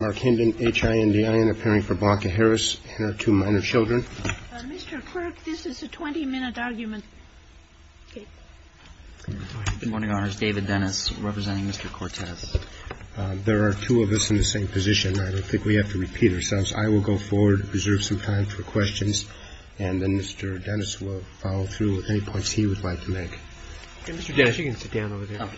Mark Hinden, H-I-N-D-I-N, appearing for Blanca Harris and her two minor children. OPERATOR Mr. Clerk, this is a 20-minute argument. MR. CLERK Good morning, Your Honors. David Dennis representing Mr. Cortez. MR. CORTEZ There are two of us in the same position. I don't think we have to repeat ourselves. I will go forward, reserve some time for questions, and then Mr. Dennis will follow through with any points he would like to make. MR. CORTEZ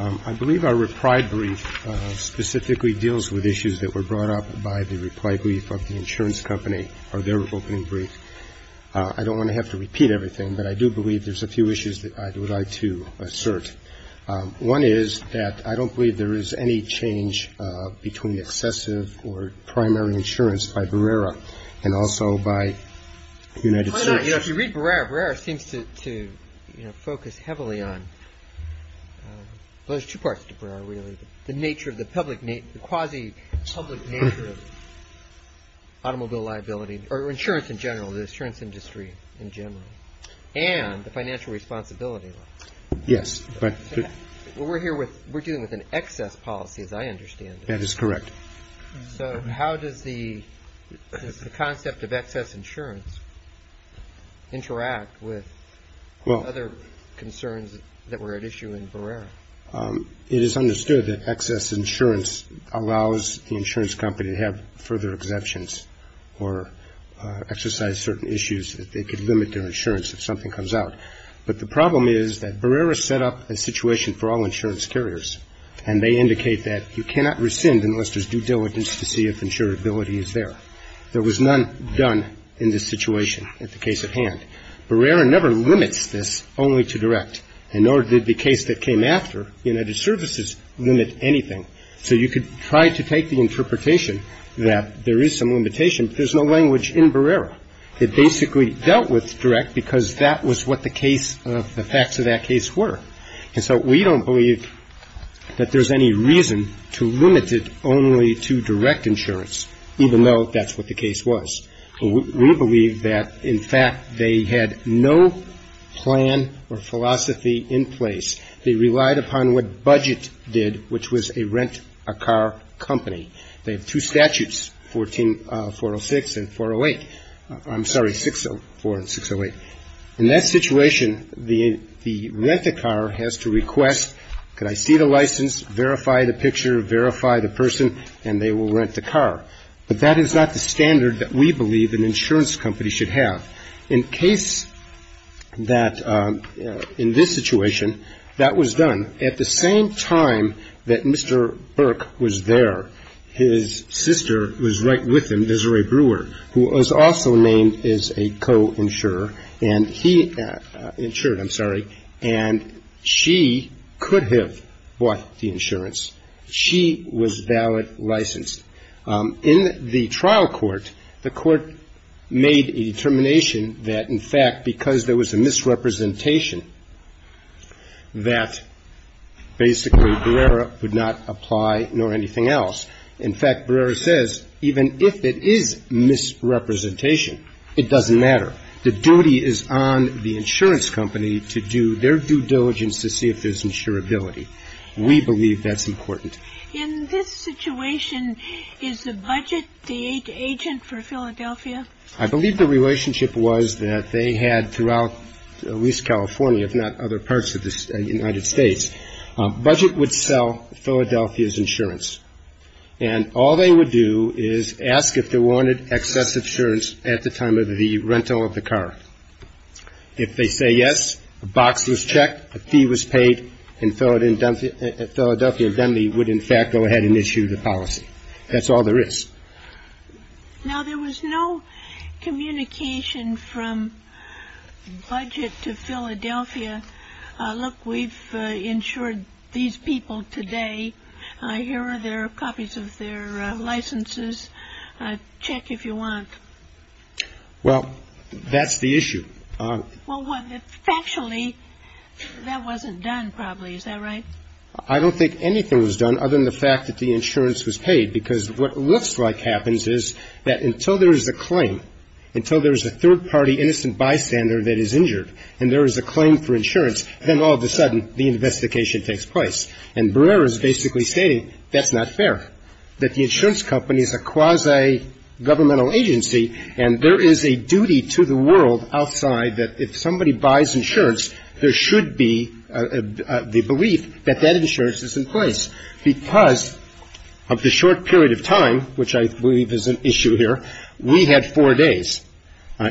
I believe our reprieve brief specifically deals with issues that were brought up by the reprieve brief of the insurance company or their opening brief. I don't want to have to repeat everything, but I do believe there's a few issues that I would like to assert. One is that I don't believe there is any change between excessive or primary insurance by Berrera and also by United States. MR. CORTEZ If you read Berrera, Berrera seems to focus heavily on – well, there's two parts to Berrera, really – the quasi-public nature of automobile liability, or insurance in general, the insurance industry in general, and the financial responsibility law. MR. CORTEZ Yes. MR. CORTEZ We're dealing with an excess policy, as I understand it. MR. CORTEZ That is correct. MR. CORTEZ So how does the concept of excess insurance interact with other concerns that were at issue in Berrera? MR. CORTEZ It is understood that excess insurance allows the insurance company to have further exemptions or exercise certain issues that could limit their insurance if something comes out. But the problem is that Berrera set up a situation for all insurance to see if insurability is there. There was none done in this situation at the case at hand. Berrera never limits this only to direct, and nor did the case that came after, United Services, limit anything. So you could try to take the interpretation that there is some limitation, but there's no language in Berrera. It basically dealt with direct because that was what the case – the facts of that case were. And so we don't believe that there's any reason to limit it only to direct insurance, even though that's what the case was. We believe that, in fact, they had no plan or philosophy in place. They relied upon what budget did, which was a rent-a-car company. They have two statutes, 406 and 408. I'm sorry, 604 and 608. In that situation, the rent-a-car has to request, could I see the license, verify the picture, verify the person, and they will rent the car. But that is not the standard that we believe an insurance company should have. In case that – in this situation, that was done at the same time that Mr. Burke was there. His sister was right with him, Desiree Brewer, who was also named as a co-insurer, and he – insured, I'm sure. She was valid, licensed. In the trial court, the court made a determination that, in fact, because there was a misrepresentation, that basically Brewer would not apply nor anything else. In fact, Brewer says, even if it is misrepresentation, it doesn't matter. The duty is on the insurance company to do their due diligence to see if there's a misrepresentation, and if there is a misrepresentation, it's a misrepresentation of their insurability. We believe that's important. In this situation, is the budget the agent for Philadelphia? I believe the relationship was that they had throughout at least California, if not other parts of the United States, budget would sell Philadelphia's insurance. And all they would do is ask if they wanted excess insurance at the time of the rental of the car. If they say yes, a box was checked, a fee was paid, and Philadelphia would in fact go ahead and issue the policy. That's all there is. Now, there was no communication from budget to Philadelphia, look, we've insured these people today. Here are their copies of their licenses. Check if you want. Well, that's the issue. Well, factually, that wasn't done, probably. Is that right? I don't think anything was done other than the fact that the insurance was paid. Because what looks like happens is that until there is a claim, until there is a third And Barrera is basically stating that's not fair, that the insurance company is a quasi-governmental agency, and there is a duty to the world outside that if somebody buys insurance, there should be the belief that that insurance is in place. Because of the short period of time, which I believe is an issue here, we had four days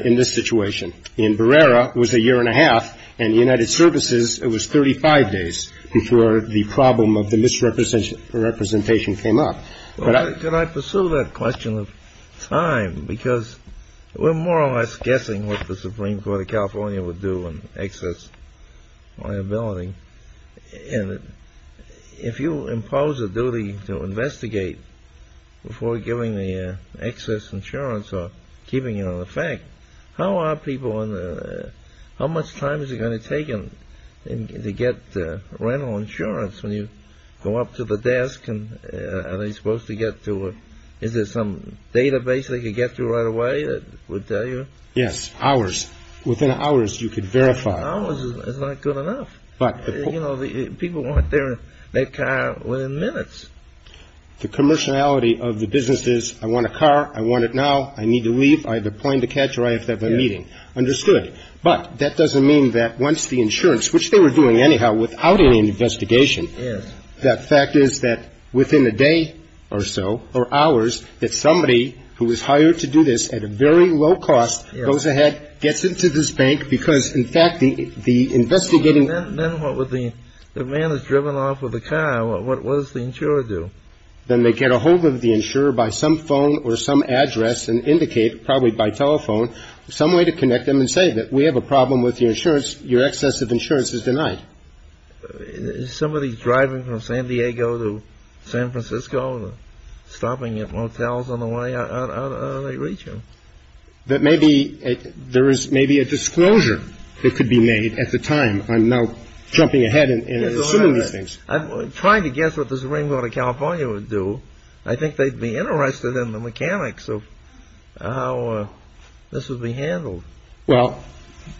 in this situation. And Barrera was a year and a half, and United Services, it was 35 days before the problem of the misrepresentation came up. Could I pursue that question of time? Because we're more or less guessing what the Supreme Court of California would do on excess liability. And if you impose a duty to investigate before giving the excess insurance or keeping it on the fact, how much time is it going to take to get rental insurance when you go up to the desk and are they supposed to get to it? Is there some database they could get to right away that would tell you? Yes, hours. Within hours, you could verify. Hours is not good enough. People want their car within minutes. The commerciality of the business is I want a car, I want it now, I need to leave, I have a plane to catch or I have to have a meeting. Understood. But that doesn't mean that once the insurance, which they were doing anyhow without any investigation, that fact is that within a day or so or hours, that somebody who was hired to do this at a very low cost goes ahead, gets into this bank, because in fact the investigating The man is driven off with a car. What does the insurer do? Then they get a hold of the insurer by some phone or some address and indicate, probably by telephone, some way to connect them and say that we have a problem with your insurance, your excess of insurance is denied. Is somebody driving from San Diego to San Francisco, stopping at motels on the way, how do they reach him? That maybe there is maybe a disclosure that could be made at the time. I'm now jumping ahead and assuming these things. I'm trying to guess what the Supreme Court of California would do. I think they'd be interested in the mechanics of how this would be handled. Well,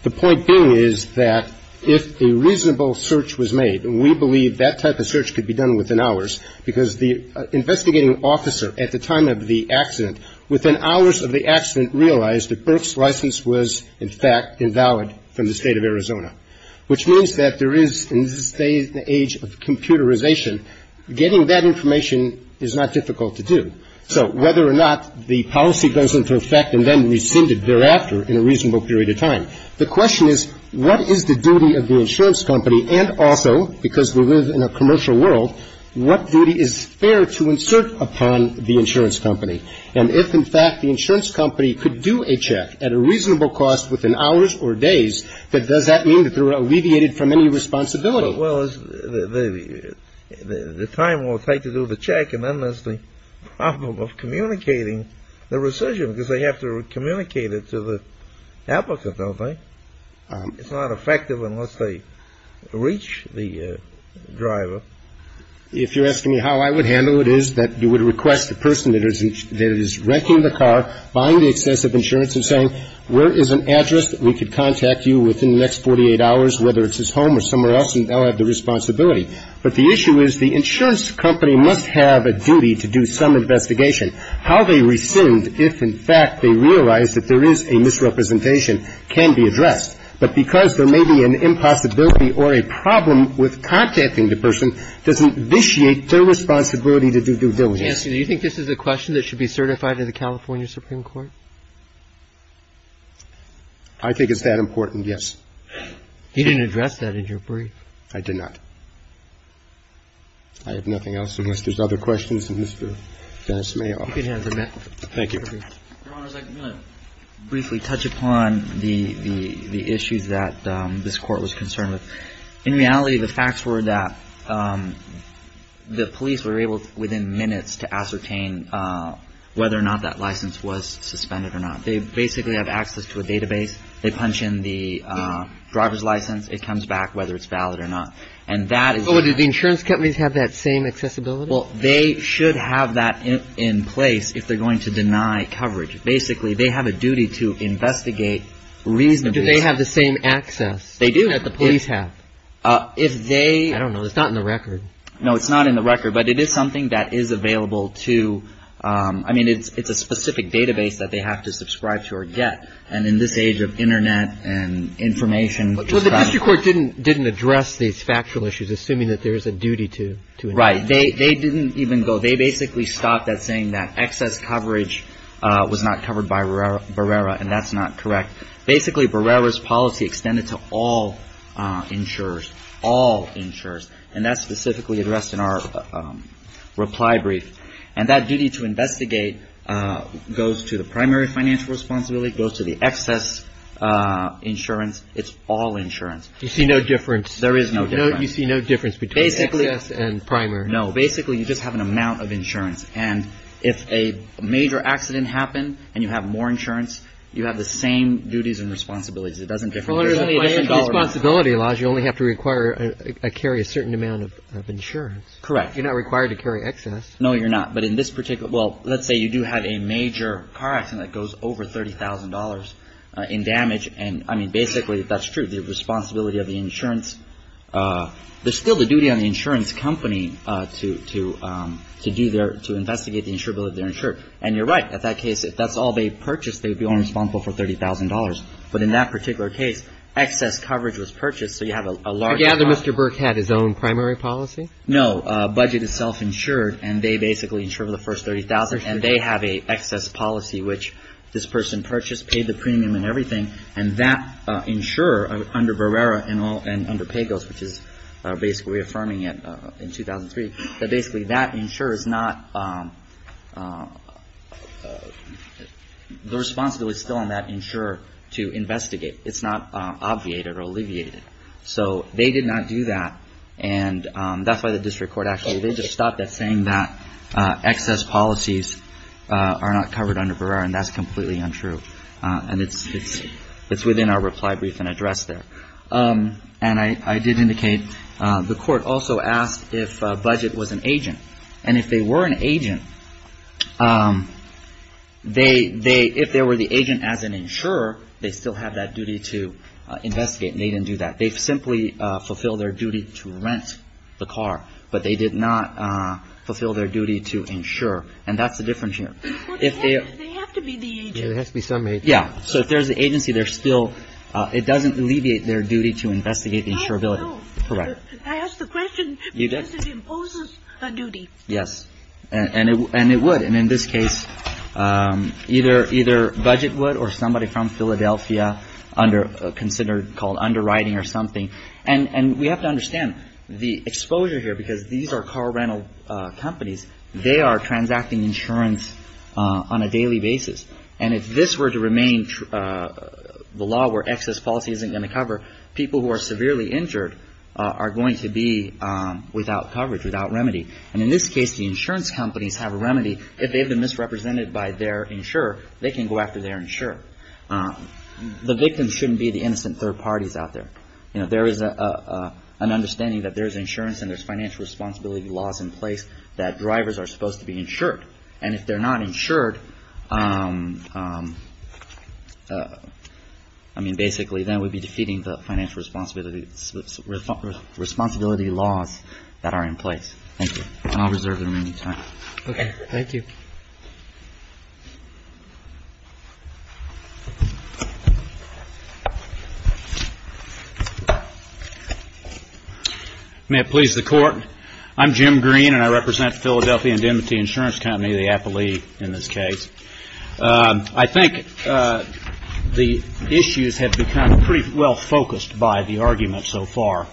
the point being is that if a reasonable search was made, we believe that type of search could be done within hours, because the investigating officer at the time of the accident, within hours of the accident, realized that Burke's license was in fact invalid from the State of Arizona, which means that there is in this day and age of computerization, getting that information is not difficult to do. So whether or not the policy goes into effect and then rescinded thereafter in a reasonable period of time, the question is what is the duty of the insurance company and also, because we live in a commercial world, what duty is fair to insert upon the insurance company? And if, in fact, the insurance company could do a check at a reasonable cost within hours or days, does that mean that they're alleviated from any responsibility? Well, the time it will take to do the check and then there's the problem of communicating the rescission, because they have to communicate it to the applicant, don't they? It's not effective unless they reach the driver. If you're asking me how I would handle it is that you would request the person that is renting the car, buying the excessive insurance and saying, where is an address that we could contact you within the next 48 hours, whether it's his home or somewhere else, and they'll have the responsibility. But the issue is the insurance company must have a duty to do some investigation. The question is how they rescind if, in fact, they realize that there is a misrepresentation can be addressed. But because there may be an impossibility or a problem with contacting the person doesn't vitiate their responsibility to do due diligence. Do you think this is a question that should be certified in the California Supreme Court? I think it's that important, yes. You didn't address that in your brief. I did not. I have nothing else unless there's other questions. And, Mr. Dennis, may I? You can answer that. Thank you. Your Honors, I'm going to briefly touch upon the issues that this court was concerned with. In reality, the facts were that the police were able, within minutes, to ascertain whether or not that license was suspended or not. They basically have access to a database. They punch in the driver's license. It comes back whether it's valid or not. So do the insurance companies have that same accessibility? Well, they should have that in place if they're going to deny coverage. Basically, they have a duty to investigate reasonably. Do they have the same access that the police have? I don't know. It's not in the record. No, it's not in the record. But it is something that is available to you. I mean, it's a specific database that they have to subscribe to or get. And in this age of Internet and information. Well, the district court didn't address these factual issues, assuming that there is a duty to investigate. Right. They didn't even go. They basically stopped at saying that excess coverage was not covered by Barrera, and that's not correct. Basically, Barrera's policy extended to all insurers, all insurers. And that's specifically addressed in our reply brief. And that duty to investigate goes to the primary financial responsibility, goes to the excess insurance. It's all insurance. You see no difference. There is no difference. You see no difference between excess and primary. No. Basically, you just have an amount of insurance. And if a major accident happened and you have more insurance, you have the same duties and responsibilities. It doesn't differ. There's only a different dollar amount. Responsibility laws, you only have to carry a certain amount of insurance. Correct. You're not required to carry excess. No, you're not. But in this particular – well, let's say you do have a major car accident that goes over $30,000 in damage. And, I mean, basically, that's true. The responsibility of the insurance – there's still the duty on the insurance company to do their – to investigate the insurability of their insurer. And you're right. At that case, if that's all they purchased, they'd be only responsible for $30,000. But in that particular case, excess coverage was purchased, so you have a large amount. I gather Mr. Burke had his own primary policy? No. Budget is self-insured, and they basically insure the first $30,000. And they have an excess policy, which this person purchased, paid the premium and everything, and that insurer under Barrera and under Pagos, which is basically reaffirming it in 2003, that basically that insurer is not – the responsibility is still on that insurer to investigate. It's not obviated or alleviated. So they did not do that, and that's why the district court actually – they just stopped at saying that excess policies are not covered under Barrera, and that's completely untrue. And it's within our reply brief and address there. And I did indicate the court also asked if Budget was an agent. And if they were an agent, they – if they were the agent as an insurer, they still have that duty to investigate, and they didn't do that. They simply fulfilled their duty to rent the car, but they did not fulfill their duty to insure. And that's the difference here. If they are – Well, they have to be the agent. They have to be some agent. Yeah. So if there's an agency, they're still – it doesn't alleviate their duty to investigate the insurability. I know. Correct. I asked the question because it imposes a duty. Yes. And it would. And in this case, either Budget would or somebody from Philadelphia under – considered called underwriting or something. And we have to understand the exposure here, because these are car rental companies. They are transacting insurance on a daily basis. And if this were to remain the law where excess policy isn't going to cover, people who are severely injured are going to be without coverage, without remedy. And in this case, the insurance companies have a remedy. If they've been misrepresented by their insurer, they can go after their insurer. The victims shouldn't be the innocent third parties out there. There is an understanding that there's insurance and there's financial responsibility laws in place that drivers are supposed to be insured. And if they're not insured, I mean, basically, then we'd be defeating the financial responsibility laws that are in place. Thank you. And I'll reserve the remaining time. Okay. Thank you. May it please the Court, I'm Jim Green, and I represent the Philadelphia Indemnity Insurance Company, the APALE in this case. I think the issues have become pretty well focused by the argument so far.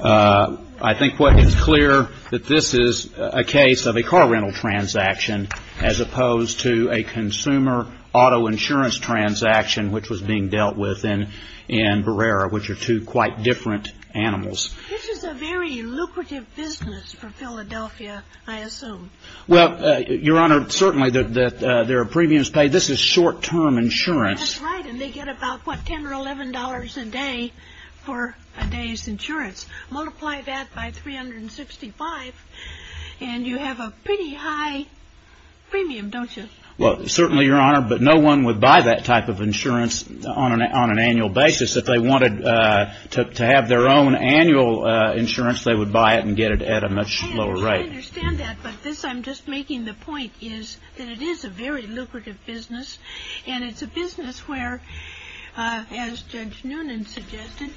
I think what is clear that this is a case of a car rental transaction as opposed to a consumer auto insurance transaction which was being dealt with in Barrera, which are two quite different animals. This is a very lucrative business for Philadelphia, I assume. Well, Your Honor, certainly there are premiums paid. This is short-term insurance. That's right, and they get about, what, $10 or $11 a day for a day's insurance. Multiply that by $365 and you have a pretty high premium, don't you? Well, certainly, Your Honor, but no one would buy that type of insurance on an annual basis. If they wanted to have their own annual insurance, they would buy it and get it at a much lower rate. I understand that, but this I'm just making the point is that it is a very lucrative business, and it's a business where, as Judge Noonan suggested,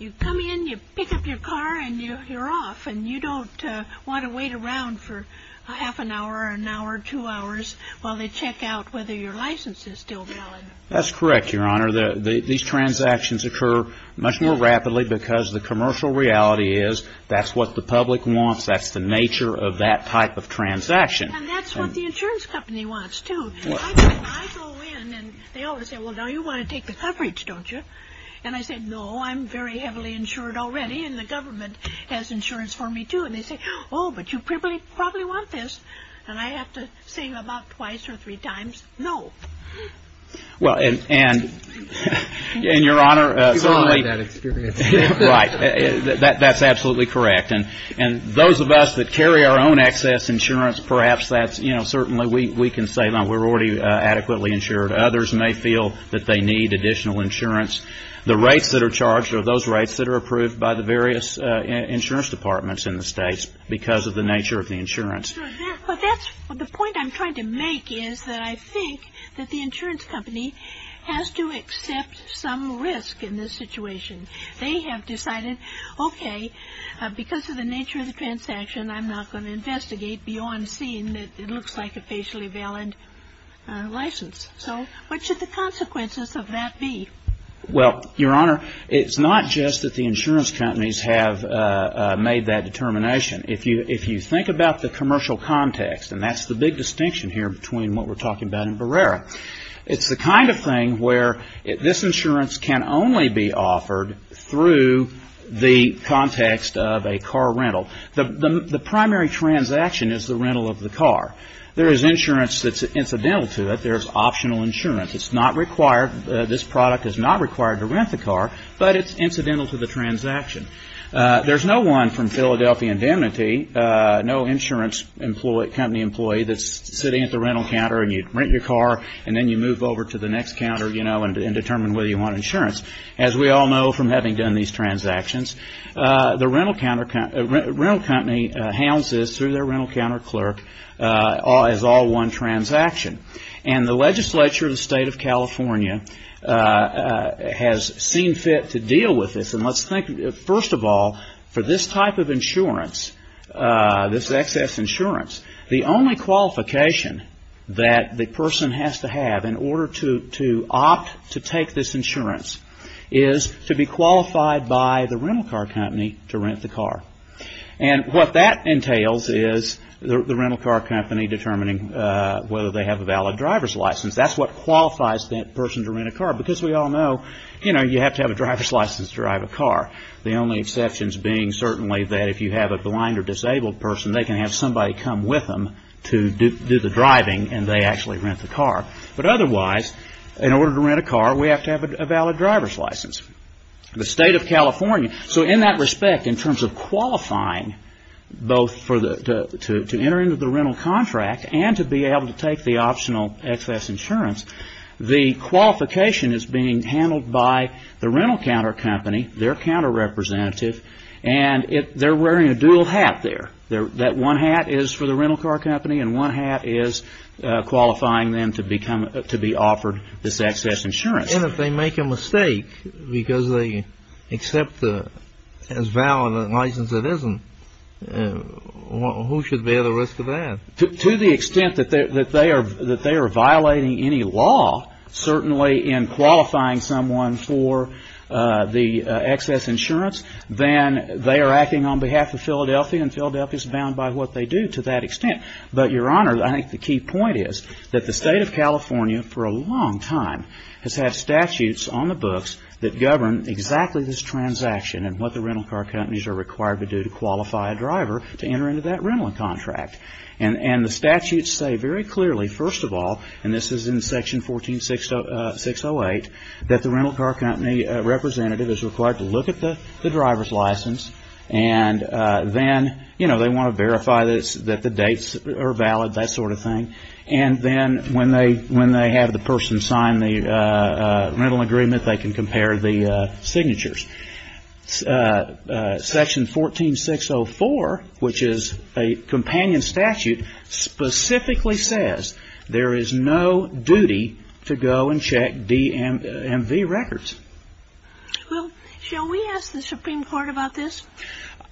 you come in, you pick up your car, and you're off, and you don't want to wait around for a half an hour, an hour, two hours while they check out whether your license is still valid. That's correct, Your Honor. These transactions occur much more rapidly because the commercial reality is that's what the public wants, that's the nature of that type of transaction. And that's what the insurance company wants, too. I go in, and they always say, well, now you want to take the coverage, don't you? And I say, no, I'm very heavily insured already, and the government has insurance for me, too. And they say, oh, but you probably want this. And I have to say about twice or three times, no. Well, and Your Honor, certainly. You've all had that experience. Right. That's absolutely correct. And those of us that carry our own excess insurance, perhaps that's, you know, certainly we can say we're already adequately insured. Others may feel that they need additional insurance. The rates that are charged are those rates that are approved by the various insurance departments in the states because of the nature of the insurance. The point I'm trying to make is that I think that the insurance company has to accept some risk in this situation. They have decided, okay, because of the nature of the transaction, I'm not going to investigate beyond seeing that it looks like a facially valid license. So what should the consequences of that be? Well, Your Honor, it's not just that the insurance companies have made that determination. If you think about the commercial context, and that's the big distinction here between what we're talking about It's the kind of thing where this insurance can only be offered through the context of a car rental. The primary transaction is the rental of the car. There is insurance that's incidental to it. There's optional insurance. It's not required, this product is not required to rent the car, but it's incidental to the transaction. There's no one from Philadelphia Indemnity, no insurance company employee that's sitting at the rental counter and you rent your car, and then you move over to the next counter, you know, and determine whether you want insurance. As we all know from having done these transactions, the rental company hounds this through their rental counter clerk as all one transaction. And the legislature of the state of California has seen fit to deal with this. And let's think, first of all, for this type of insurance, this excess insurance, the only qualification that the person has to have in order to opt to take this insurance is to be qualified by the rental car company to rent the car. And what that entails is the rental car company determining whether they have a valid driver's license. That's what qualifies that person to rent a car, because we all know, you know, you have to have a driver's license to drive a car. The only exceptions being certainly that if you have a blind or disabled person, they can have somebody come with them to do the driving and they actually rent the car. But otherwise, in order to rent a car, we have to have a valid driver's license. The state of California, so in that respect, in terms of qualifying both to enter into the rental contract and to be able to take the optional excess insurance, the qualification is being handled by the rental counter company, their counter representative, and they're wearing a dual hat there. That one hat is for the rental car company and one hat is qualifying them to be offered this excess insurance. And if they make a mistake because they accept as valid a license that isn't, who should bear the risk of that? To the extent that they are violating any law, certainly in qualifying someone for the excess insurance, then they are acting on behalf of Philadelphia and Philadelphia is bound by what they do to that extent. But, Your Honor, I think the key point is that the state of California for a long time has had statutes on the books that govern exactly this transaction and what the rental car companies are required to do to qualify a driver to enter into that rental contract. And the statutes say very clearly, first of all, and this is in Section 14608, that the rental car company representative is required to look at the driver's license and then they want to verify that the dates are valid, that sort of thing. And then when they have the person sign the rental agreement, they can compare the signatures. Section 14604, which is a companion statute, specifically says there is no duty to go and check DMV records. Well, shall we ask the Supreme Court about this?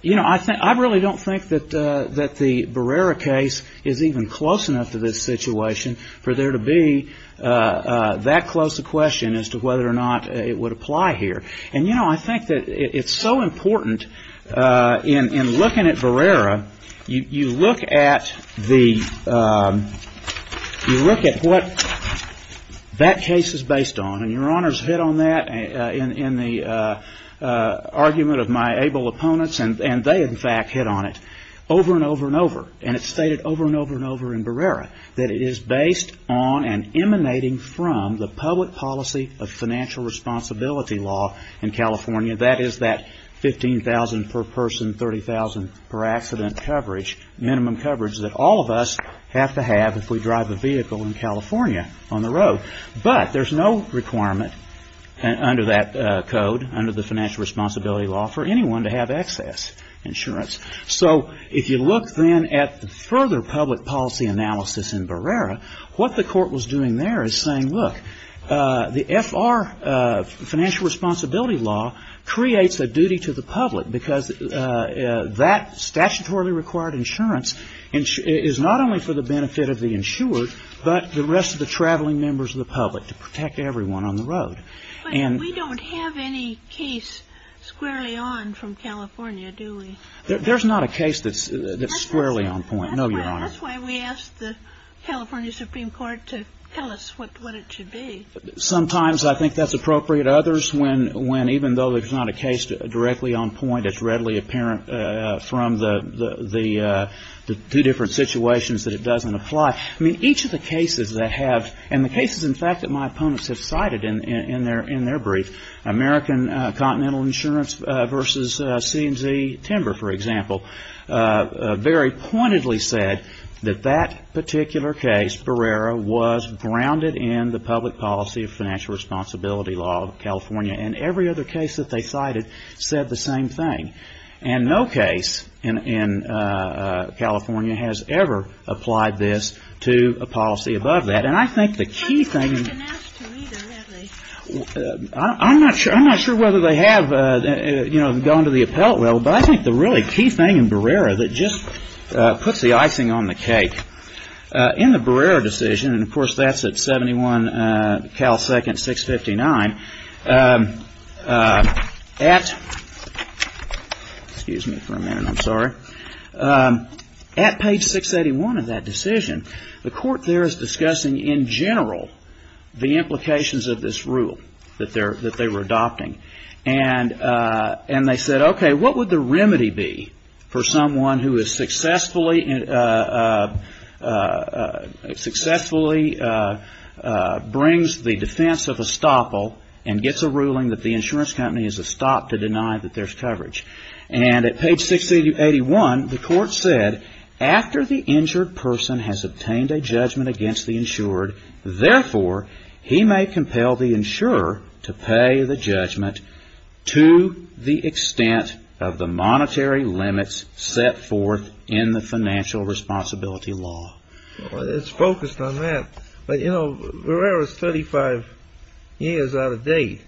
You know, I really don't think that the Barrera case is even close enough to this situation for there to be that close a question as to whether or not it would apply here. And, you know, I think that it's so important in looking at Barrera, you look at the you look at what that case is based on, and Your Honor's hit on that in the argument of my able opponents, and they, in fact, hit on it over and over and over. And it's stated over and over and over in Barrera that it is based on and emanating from the public policy of financial responsibility law in California. That is that 15,000 per person, 30,000 per accident coverage, minimum coverage that all of us have to have if we drive a vehicle in California on the road. But there's no requirement under that code, under the financial responsibility law, for anyone to have excess insurance. So if you look then at the further public policy analysis in Barrera, what the court was doing there is saying, look, the FR, financial responsibility law, creates a duty to the public because that statutorily required insurance is not only for the benefit of the insured, but the rest of the traveling members of the public to protect everyone on the road. And we don't have any case squarely on from California, do we? There's not a case that's squarely on point. No, Your Honor. That's why we asked the California Supreme Court to tell us what it should be. Sometimes I think that's appropriate. Others, when, even though there's not a case directly on point, it's readily apparent from the two different situations that it doesn't apply. I mean, each of the cases that have, and the cases, in fact, that my opponents have cited in their brief, American Continental Insurance versus C&Z Timber, for example, very pointedly said that that particular case, Barrera, was grounded in the public policy of financial responsibility law of California. And every other case that they cited said the same thing. And no case in California has ever applied this to a policy above that. And I think the key thing. I'm not sure whether they have, you know, gone to the appellate level, but I think the really key thing in Barrera that just puts the icing on the cake, in the Barrera decision, and, of course, that's at 71 Cal Second 659, at, excuse me for a minute, I'm sorry, at page 681 of that decision, the court there is discussing, in general, the implications of this rule that they're, that they were adopting. And they said, okay, what would the remedy be for someone who has successfully, successfully brings the defense of estoppel and gets a ruling that the insurance company is a stop to deny that there's coverage. And at page 681, the court said, after the injured person has obtained a judgment against the insured, therefore, he may compel the insurer to pay the judgment to the extent of the monetary limits set forth in the financial responsibility law. Well, it's focused on that. But, you know, Barrera's 35 years out of date.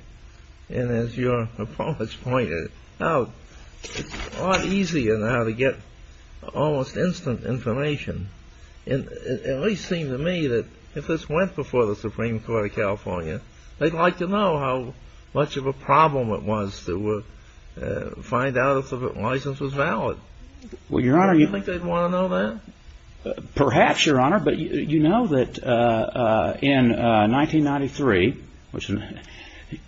And as your appellate's pointed out, it's a lot easier now to get almost instant information. And it at least seemed to me that if this went before the Supreme Court of California, they'd like to know how much of a problem it was to find out if the license was valid. Well, Your Honor, you Do you think they'd want to know that? Perhaps, Your Honor. But you know that in 1993, which in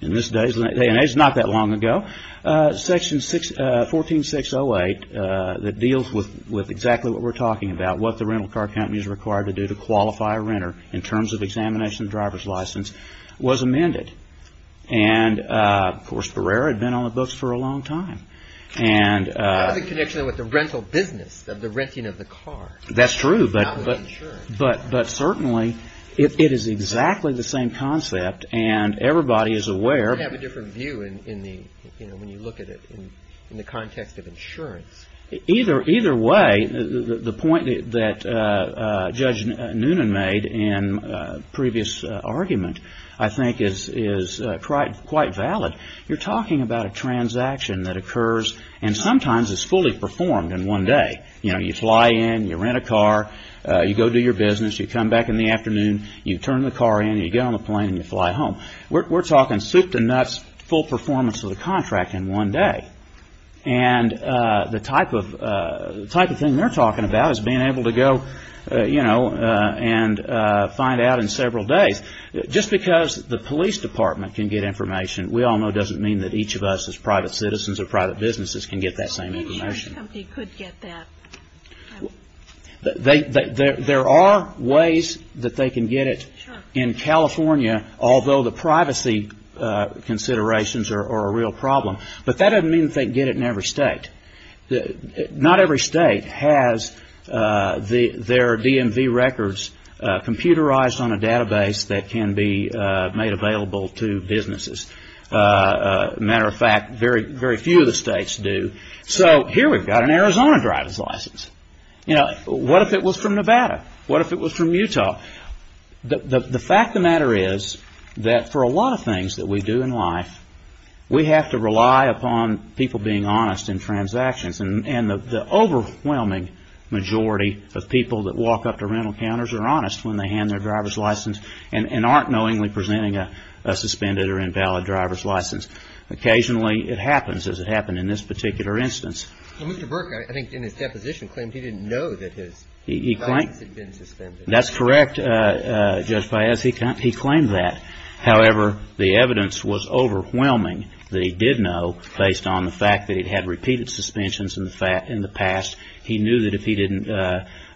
this day and age is not that long ago, section 14608 that deals with exactly what we're talking about, what the rental car company is required to do to qualify a renter in terms of examination of driver's license was amended. And, of course, Barrera had been on the books for a long time. And Part of the connection with the rental business of the renting of the car. That's true. But certainly it is exactly the same concept. And everybody is aware. You have a different view when you look at it in the context of insurance. Either way, the point that Judge Noonan made in a previous argument, I think, is quite valid. You're talking about a transaction that occurs and sometimes is fully performed in one day. You fly in. You rent a car. You go do your business. You come back in the afternoon. You turn the car in. You get on the plane and you fly home. We're talking soup to nuts full performance of the contract in one day. And the type of thing they're talking about is being able to go and find out in several days. Just because the police department can get information, we all know doesn't mean that each of us as private citizens or private businesses can get that same information. Each company could get that. There are ways that they can get it in California, although the privacy considerations are a real problem. But that doesn't mean that they can get it in every state. Not every state has their DMV records computerized on a database that can be made available to businesses. As a matter of fact, very few of the states do. So here we've got an Arizona driver's license. What if it was from Nevada? What if it was from Utah? The fact of the matter is that for a lot of things that we do in life, we have to rely upon people being honest in transactions. And the overwhelming majority of people that walk up to rental counters are honest when they hand their driver's license Occasionally it happens, as it happened in this particular instance. Well, Mr. Burke, I think in his deposition claimed he didn't know that his license had been suspended. That's correct, Judge Paez. He claimed that. However, the evidence was overwhelming that he did know, based on the fact that he'd had repeated suspensions in the past. He knew that if he didn't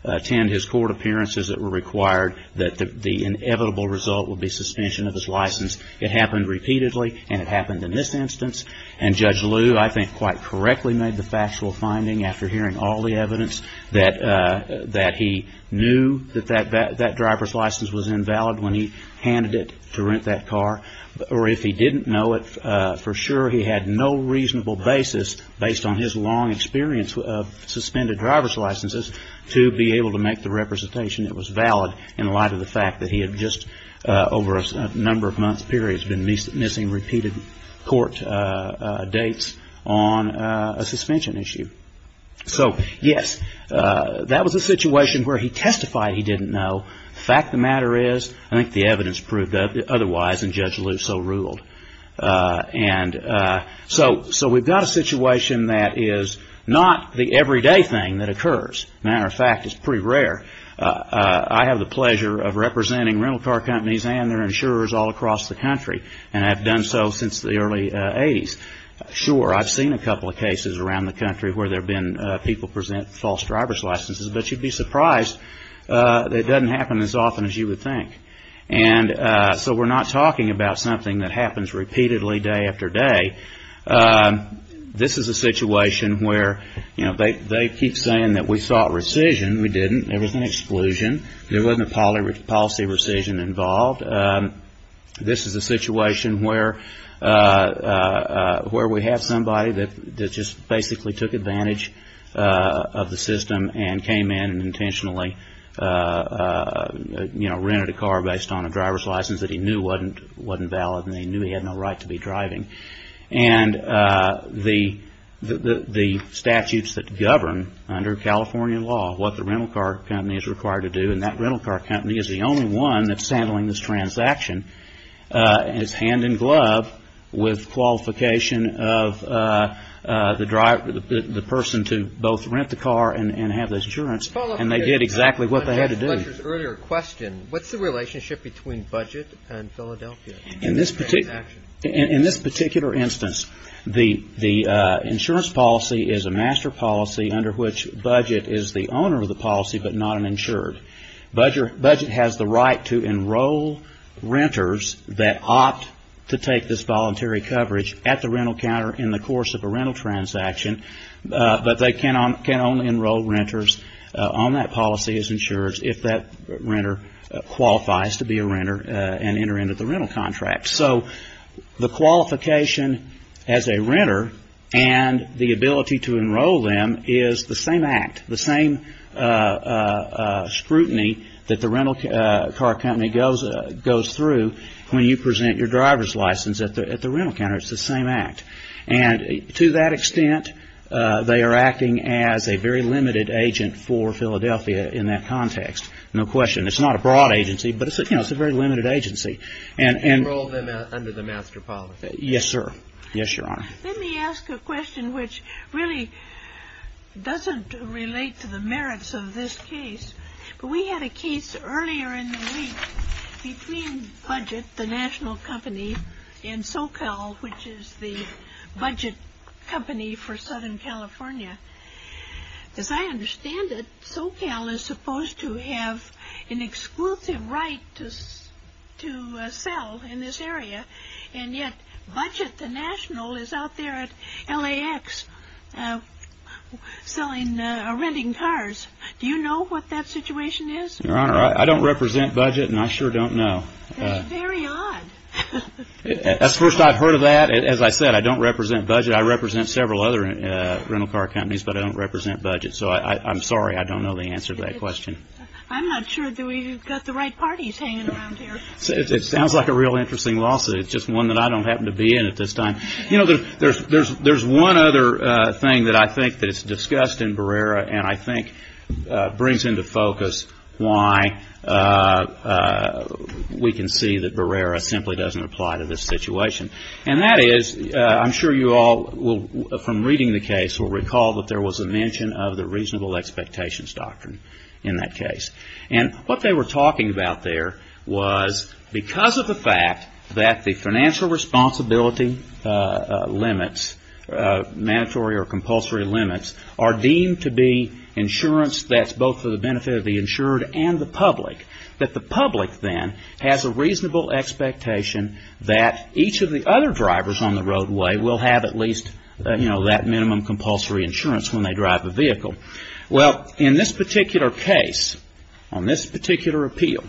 attend his court appearances that were required, that the inevitable result would be suspension of his license. It happened repeatedly, and it happened in this instance. And Judge Lew, I think, quite correctly made the factual finding after hearing all the evidence that he knew that that driver's license was invalid when he handed it to rent that car. Or if he didn't know it for sure, he had no reasonable basis, based on his long experience of suspended driver's licenses, to be able to make the representation that was valid in light of the fact that he had just over a number of months period been missing repeated court dates on a suspension issue. So, yes, that was a situation where he testified he didn't know. The fact of the matter is, I think the evidence proved otherwise, and Judge Lew so ruled. And so we've got a situation that is not the everyday thing that occurs. Matter of fact, it's pretty rare. I have the pleasure of representing rental car companies and their insurers all across the country, and I've done so since the early 80s. Sure, I've seen a couple of cases around the country where there have been people present false driver's licenses, but you'd be surprised that it doesn't happen as often as you would think. And so we're not talking about something that happens repeatedly day after day. This is a situation where, you know, they keep saying that we sought rescission. We didn't. There was an exclusion. There wasn't a policy rescission involved. This is a situation where we have somebody that just basically took advantage of the system and came in and intentionally, you know, rented a car based on a driver's license that he knew wasn't valid, and he knew he had no right to be driving. And the statutes that govern under California law what the rental car company is required to do, and that rental car company is the only one that's handling this transaction, is hand in glove with qualification of the person to both rent the car and have this insurance, and they did exactly what they had to do. To follow up on Richard's earlier question, what's the relationship between budget and Philadelphia? In this particular instance, the insurance policy is a master policy under which budget is the owner of the policy but not an insured. Budget has the right to enroll renters that opt to take this voluntary coverage at the rental counter in the course of a rental transaction, but they can only enroll renters on that policy as insured if that renter qualifies to be a renter and enter into the rental contract. So the qualification as a renter and the ability to enroll them is the same act, the same scrutiny that the rental car company goes through when you present your driver's license at the rental counter. It's the same act. And to that extent, they are acting as a very limited agent for Philadelphia in that context, no question. It's not a broad agency, but it's a very limited agency. Enroll them under the master policy. Yes, sir. Yes, Your Honor. Let me ask a question which really doesn't relate to the merits of this case. We had a case earlier in the week between budget, the national company, and SoCal, which is the budget company for Southern California. As I understand it, SoCal is supposed to have an exclusive right to sell in this area, and yet budget, the national, is out there at LAX selling or renting cars. Do you know what that situation is? Your Honor, I don't represent budget and I sure don't know. That's very odd. That's the first I've heard of that. As I said, I don't represent budget. I represent several other rental car companies, but I don't represent budget. So I'm sorry. I don't know the answer to that question. I'm not sure that we've got the right parties hanging around here. It sounds like a real interesting lawsuit. It's just one that I don't happen to be in at this time. You know, there's one other thing that I think that's discussed in Barrera and I think brings into focus why we can see that Barrera simply doesn't apply to this situation. And that is, I'm sure you all will, from reading the case, will recall that there was a mention of the reasonable expectations doctrine in that case. And what they were talking about there was because of the fact that the financial responsibility limits, mandatory or compulsory limits, are deemed to be insurance that's both for the benefit of the insured and the public, that the public then has a reasonable expectation that each of the other drivers on the roadway will have at least, you know, that minimum compulsory insurance when they drive a vehicle. Well, in this particular case, on this particular appeal,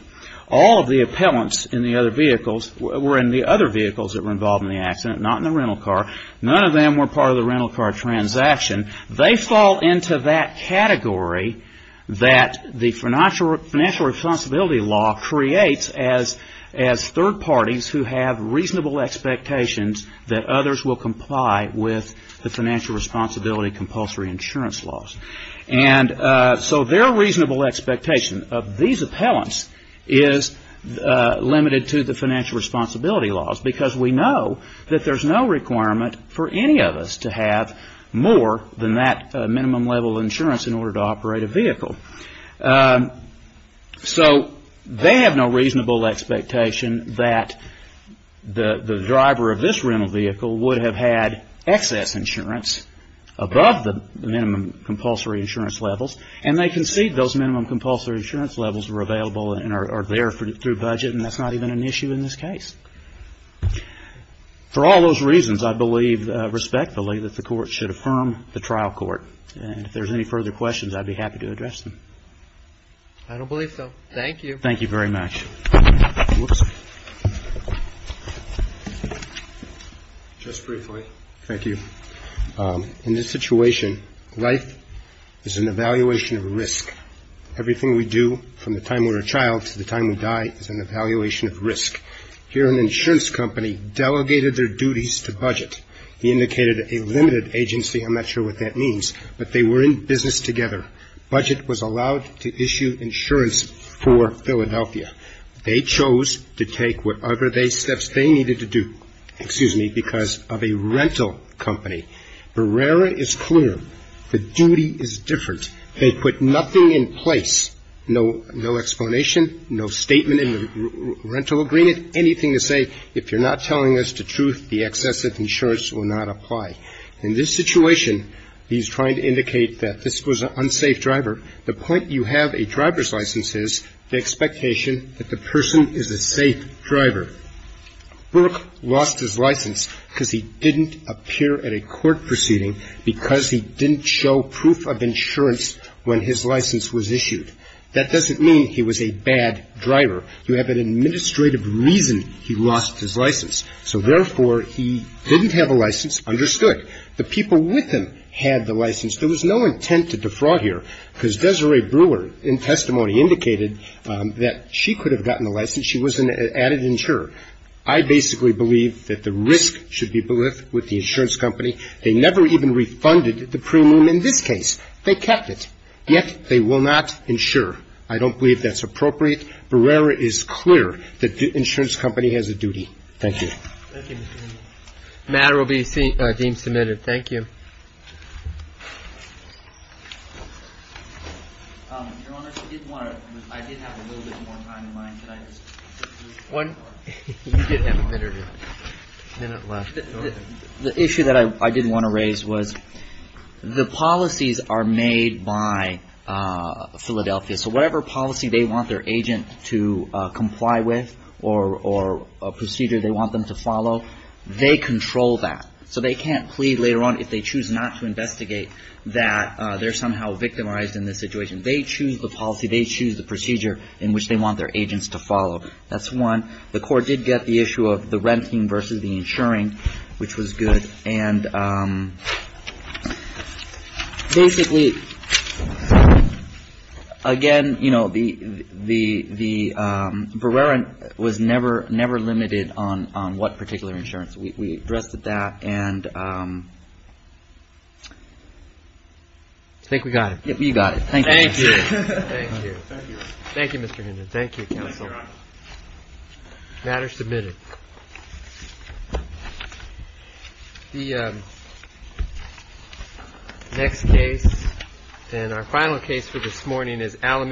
all of the appellants in the other vehicles were in the other vehicles that were involved in the accident, not in the rental car. None of them were part of the rental car transaction. They fall into that category that the financial responsibility law creates as third parties who have reasonable expectations that others will comply with the financial responsibility compulsory insurance laws. And so their reasonable expectation of these appellants is limited to the financial responsibility laws because we know that there's no more than that minimum level of insurance in order to operate a vehicle. So they have no reasonable expectation that the driver of this rental vehicle would have had excess insurance above the minimum compulsory insurance levels. And they concede those minimum compulsory insurance levels were available and are there through budget, and that's not even an issue in this case. For all those reasons, I believe respectfully that the court should affirm the trial court. And if there's any further questions, I'd be happy to address them. I don't believe so. Thank you. Thank you very much. Just briefly. Thank you. In this situation, life is an evaluation of risk. Everything we do from the time we're a child to the time we die is an evaluation of risk. Here an insurance company delegated their duties to budget. He indicated a limited agency. I'm not sure what that means. But they were in business together. Budget was allowed to issue insurance for Philadelphia. They chose to take whatever steps they needed to do, excuse me, because of a rental company. Barrera is clear. The duty is different. They put nothing in place. No explanation, no statement in the rental agreement, anything to say if you're not telling us the truth, the excessive insurance will not apply. In this situation, he's trying to indicate that this was an unsafe driver. The point you have a driver's license is the expectation that the person is a safe driver. Burke lost his license because he didn't appear at a court proceeding because he didn't show proof of insurance when his license was issued. That doesn't mean he was a bad driver. You have an administrative reason he lost his license. So, therefore, he didn't have a license, understood. The people with him had the license. There was no intent to defraud here because Desiree Brewer, in testimony, indicated that she could have gotten the license. She was an added insurer. I basically believe that the risk should be with the insurance company. They never even refunded the premium in this case. They kept it. Yet, they will not insure. I don't believe that's appropriate. Brewer is clear that the insurance company has a duty. Thank you. Thank you. The matter will be deemed submitted. Thank you. Your Honor, I did have a little bit more time in mind. You did have a minute or two. A minute left. The issue that I did want to raise was the policies are made by Philadelphia. So whatever policy they want their agent to comply with or a procedure they want them to follow, they control that. So they can't plead later on if they choose not to investigate that they're somehow victimized in this situation. They choose the policy. They choose the procedure in which they want their agents to follow. That's one. The court did get the issue of the renting versus the insuring, which was good. And basically, again, you know, the Brewer was never limited on what particular insurance. We addressed that. And I think we got it. You got it. Thank you. Thank you. Thank you, Mr. Hinton. Thank you. Thank you, counsel. The matter is submitted. The next case and our final case for this morning is Alameda.